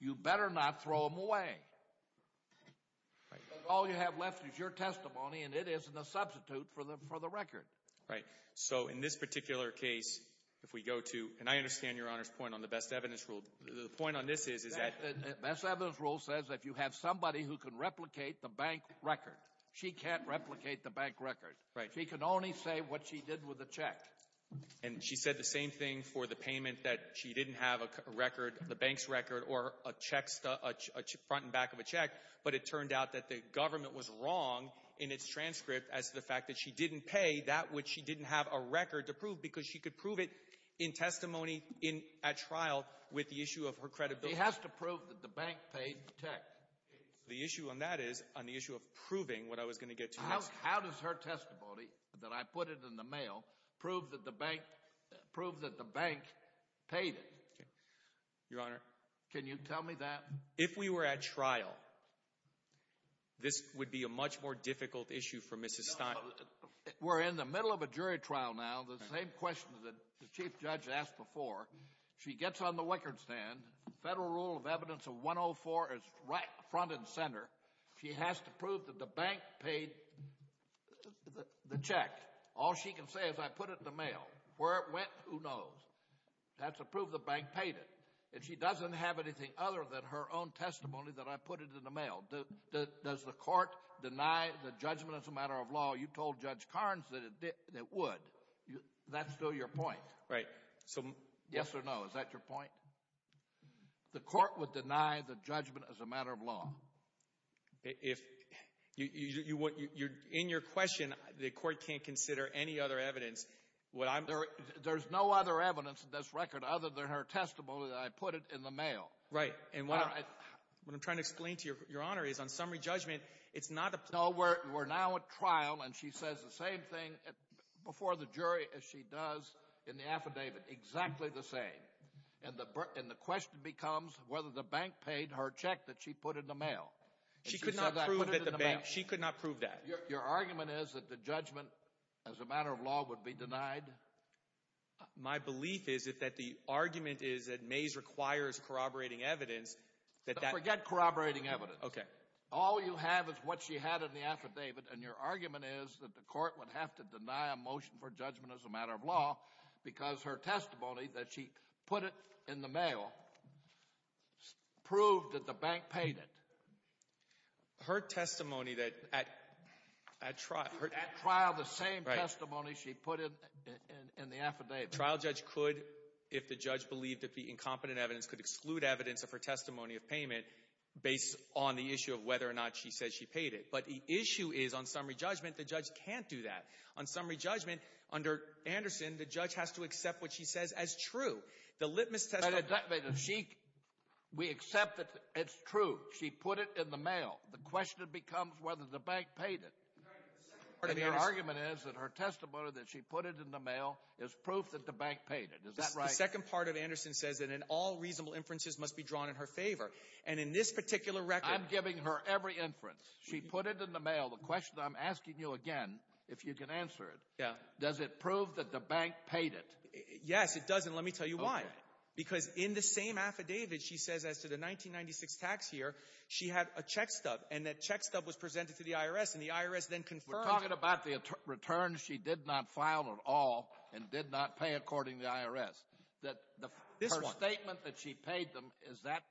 you better not throw them away. All you have left is your testimony, and it isn't a substitute for the record. Right. So, in this particular case, if we go to— and I understand Your Honor's point on the best evidence rule. The point on this is that— The best evidence rule says if you have somebody who can replicate the bank record. She can't replicate the bank record. Right. She can only say what she did with a check. And she said the same thing for the payment that she didn't have a record, the bank's record, or a front and back of a check, but it turned out that the government was wrong in its transcript as to the fact that she didn't pay that which she didn't have a record to prove because she could prove it in testimony at trial with the issue of her credibility. She has to prove that the bank paid the check. The issue on that is on the issue of proving what I was going to get to next. How does her testimony that I put it in the mail prove that the bank paid it? Your Honor. Can you tell me that? If we were at trial, this would be a much more difficult issue for Mrs. Stein. We're in the middle of a jury trial now. The same question that the chief judge asked before. She gets on the wickard stand. Federal rule of evidence of 104 is right front and center. She has to prove that the bank paid the check. All she can say is I put it in the mail. Where it went, who knows. She has to prove the bank paid it. And she doesn't have anything other than her own testimony that I put it in the mail. Does the court deny the judgment as a matter of law? You told Judge Carnes that it would. That's still your point. Right. Yes or no? Is that your point? The court would deny the judgment as a matter of law. In your question, the court can't consider any other evidence. There's no other evidence in this record other than her testimony that I put it in the mail. Right. What I'm trying to explain to Your Honor is on summary judgment, it's not a— No, we're now at trial, and she says the same thing before the jury as she does in the affidavit, exactly the same. And the question becomes whether the bank paid her check that she put in the mail. She could not prove that the bank—she could not prove that. Your argument is that the judgment as a matter of law would be denied? My belief is that the argument is that Mays requires corroborating evidence that that— Forget corroborating evidence. Okay. All you have is what she had in the affidavit, and your argument is that the court would have to deny a motion for judgment as a matter of law because her testimony that she put it in the mail proved that the bank paid it. Her testimony that at trial— At trial, the same testimony she put in the affidavit. At trial, the trial judge could, if the judge believed that the incompetent evidence could exclude evidence of her testimony of payment based on the issue of whether or not she said she paid it. But the issue is, on summary judgment, the judge can't do that. On summary judgment, under Anderson, the judge has to accept what she says as true. The litmus testimony— We accept that it's true. She put it in the mail. The question becomes whether the bank paid it. And your argument is that her testimony that she put it in the mail is proof that the bank paid it. Is that right? The second part of Anderson says that all reasonable inferences must be drawn in her favor. And in this particular record— I'm giving her every inference. She put it in the mail. The question I'm asking you again, if you can answer it, does it prove that the bank paid it? Yes, it does, and let me tell you why. Because in the same affidavit she says as to the 1996 tax year, she had a check stub. And that check stub was presented to the IRS, and the IRS then confirmed— We're talking about the return she did not file at all and did not pay according to the IRS. This one. Her statement that she paid them, is that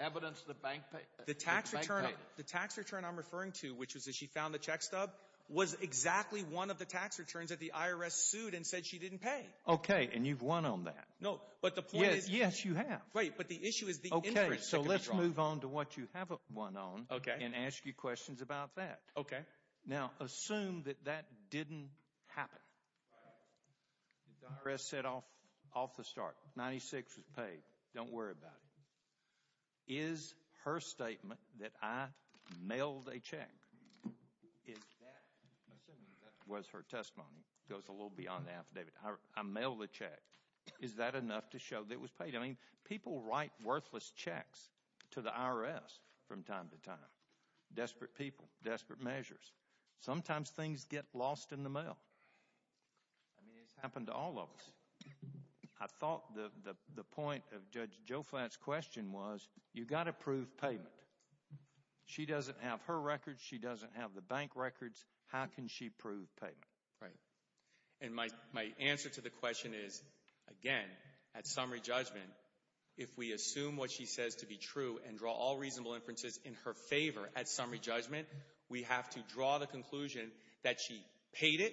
evidence the bank paid it? The tax return I'm referring to, which is that she found the check stub, was exactly one of the tax returns that the IRS sued and said she didn't pay. Okay, and you've won on that. No, but the point is— Yes, you have. Right, but the issue is the inference that can be drawn. I'll move on to what you haven't won on and ask you questions about that. Okay. Now, assume that that didn't happen. Right. The IRS said off the start, 1996 was paid. Don't worry about it. Is her statement that I mailed a check, is that—assuming that was her testimony. It goes a little beyond the affidavit. I mailed the check. Is that enough to show that it was paid? I mean, people write worthless checks to the IRS from time to time. Desperate people. Desperate measures. Sometimes things get lost in the mail. I mean, it's happened to all of us. I thought the point of Judge Joe Flatt's question was, you've got to prove payment. She doesn't have her records. She doesn't have the bank records. How can she prove payment? Right. And my answer to the question is, again, at summary judgment, if we assume what she says to be true and draw all reasonable inferences in her favor at summary judgment, we have to draw the conclusion that she paid it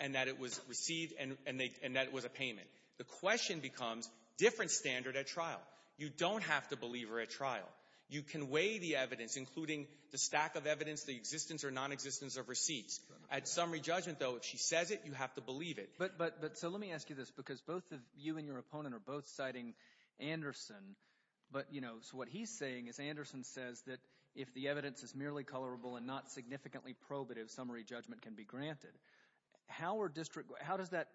and that it was received and that it was a payment. The question becomes different standard at trial. You don't have to believe her at trial. You can weigh the evidence, including the stack of evidence, the existence or nonexistence of receipts. At summary judgment, though, if she says it, you have to believe it. But so let me ask you this because both of you and your opponent are both citing Anderson. But, you know, so what he's saying is Anderson says that if the evidence is merely colorable and not significantly probative, summary judgment can be granted. How does that,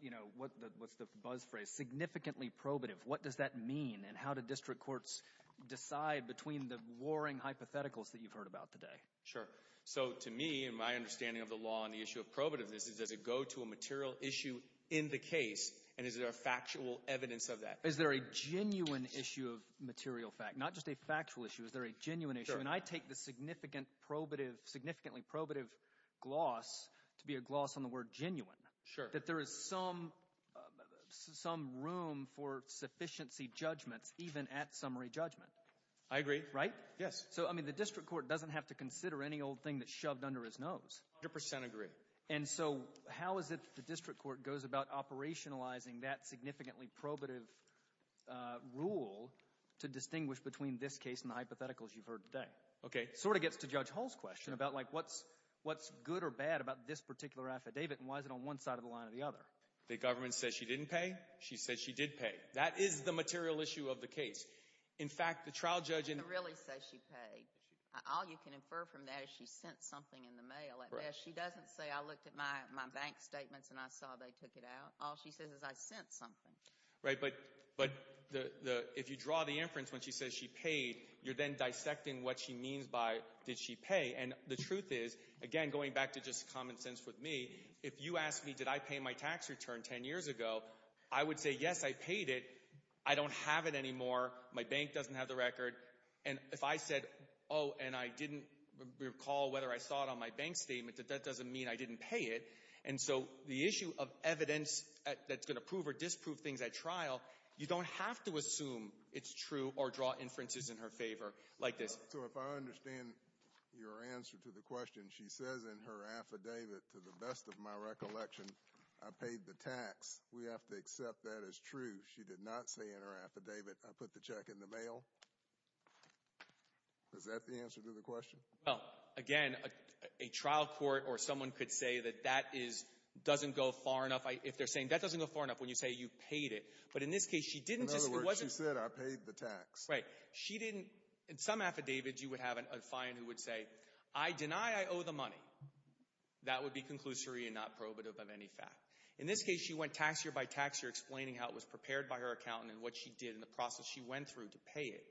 you know, what's the buzz phrase, significantly probative, what does that mean? And how do district courts decide between the warring hypotheticals that you've heard about today? Sure. So to me and my understanding of the law on the issue of probativeness is does it go to a material issue in the case and is there a factual evidence of that? Is there a genuine issue of material fact? Not just a factual issue. Is there a genuine issue? And I take the significantly probative gloss to be a gloss on the word genuine. Sure. That there is some room for sufficiency judgments even at summary judgment. I agree. Right? Yes. So, I mean, the district court doesn't have to consider any old thing that's shoved under his nose. I 100% agree. And so how is it that the district court goes about operationalizing that significantly probative rule to distinguish between this case and the hypotheticals you've heard today? Okay. It sort of gets to Judge Hull's question about, like, what's good or bad about this particular affidavit and why is it on one side of the line or the other? The government says she didn't pay. She says she did pay. That is the material issue of the case. In fact, the trial judge in the All you can infer from that is she sent something in the mail. She doesn't say I looked at my bank statements and I saw they took it out. All she says is I sent something. Right. But if you draw the inference when she says she paid, you're then dissecting what she means by did she pay. And the truth is, again, going back to just common sense with me, if you asked me did I pay my tax return 10 years ago, I would say, yes, I paid it. I don't have it anymore. My bank doesn't have the record. And if I said, oh, and I didn't recall whether I saw it on my bank statement, that doesn't mean I didn't pay it. And so the issue of evidence that's going to prove or disprove things at trial, you don't have to assume it's true or draw inferences in her favor like this. So if I understand your answer to the question, she says in her affidavit, to the best of my recollection, I paid the tax. We have to accept that as true. She did not say in her affidavit I put the check in the mail. Is that the answer to the question? Well, again, a trial court or someone could say that that doesn't go far enough. If they're saying that doesn't go far enough when you say you paid it. But in this case, she didn't. In other words, she said I paid the tax. Right. She didn't. In some affidavits, you would have a client who would say I deny I owe the money. That would be conclusory and not probative of any fact. In this case, she went tax year by tax year explaining how it was prepared by her accountant and what she did and the process she went through to pay it.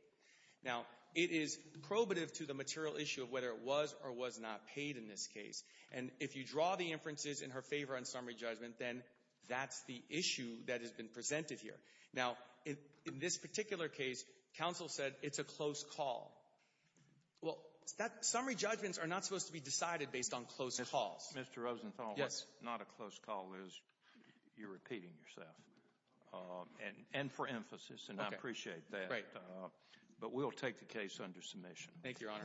Now, it is probative to the material issue of whether it was or was not paid in this case. And if you draw the inferences in her favor on summary judgment, then that's the issue that has been presented here. Now, in this particular case, counsel said it's a close call. Well, summary judgments are not supposed to be decided based on close calls. Mr. Rosenthal, what's not a close call is you're repeating yourself. And for emphasis, and I appreciate that. Right. But we'll take the case under submission. Thank you, Your Honor.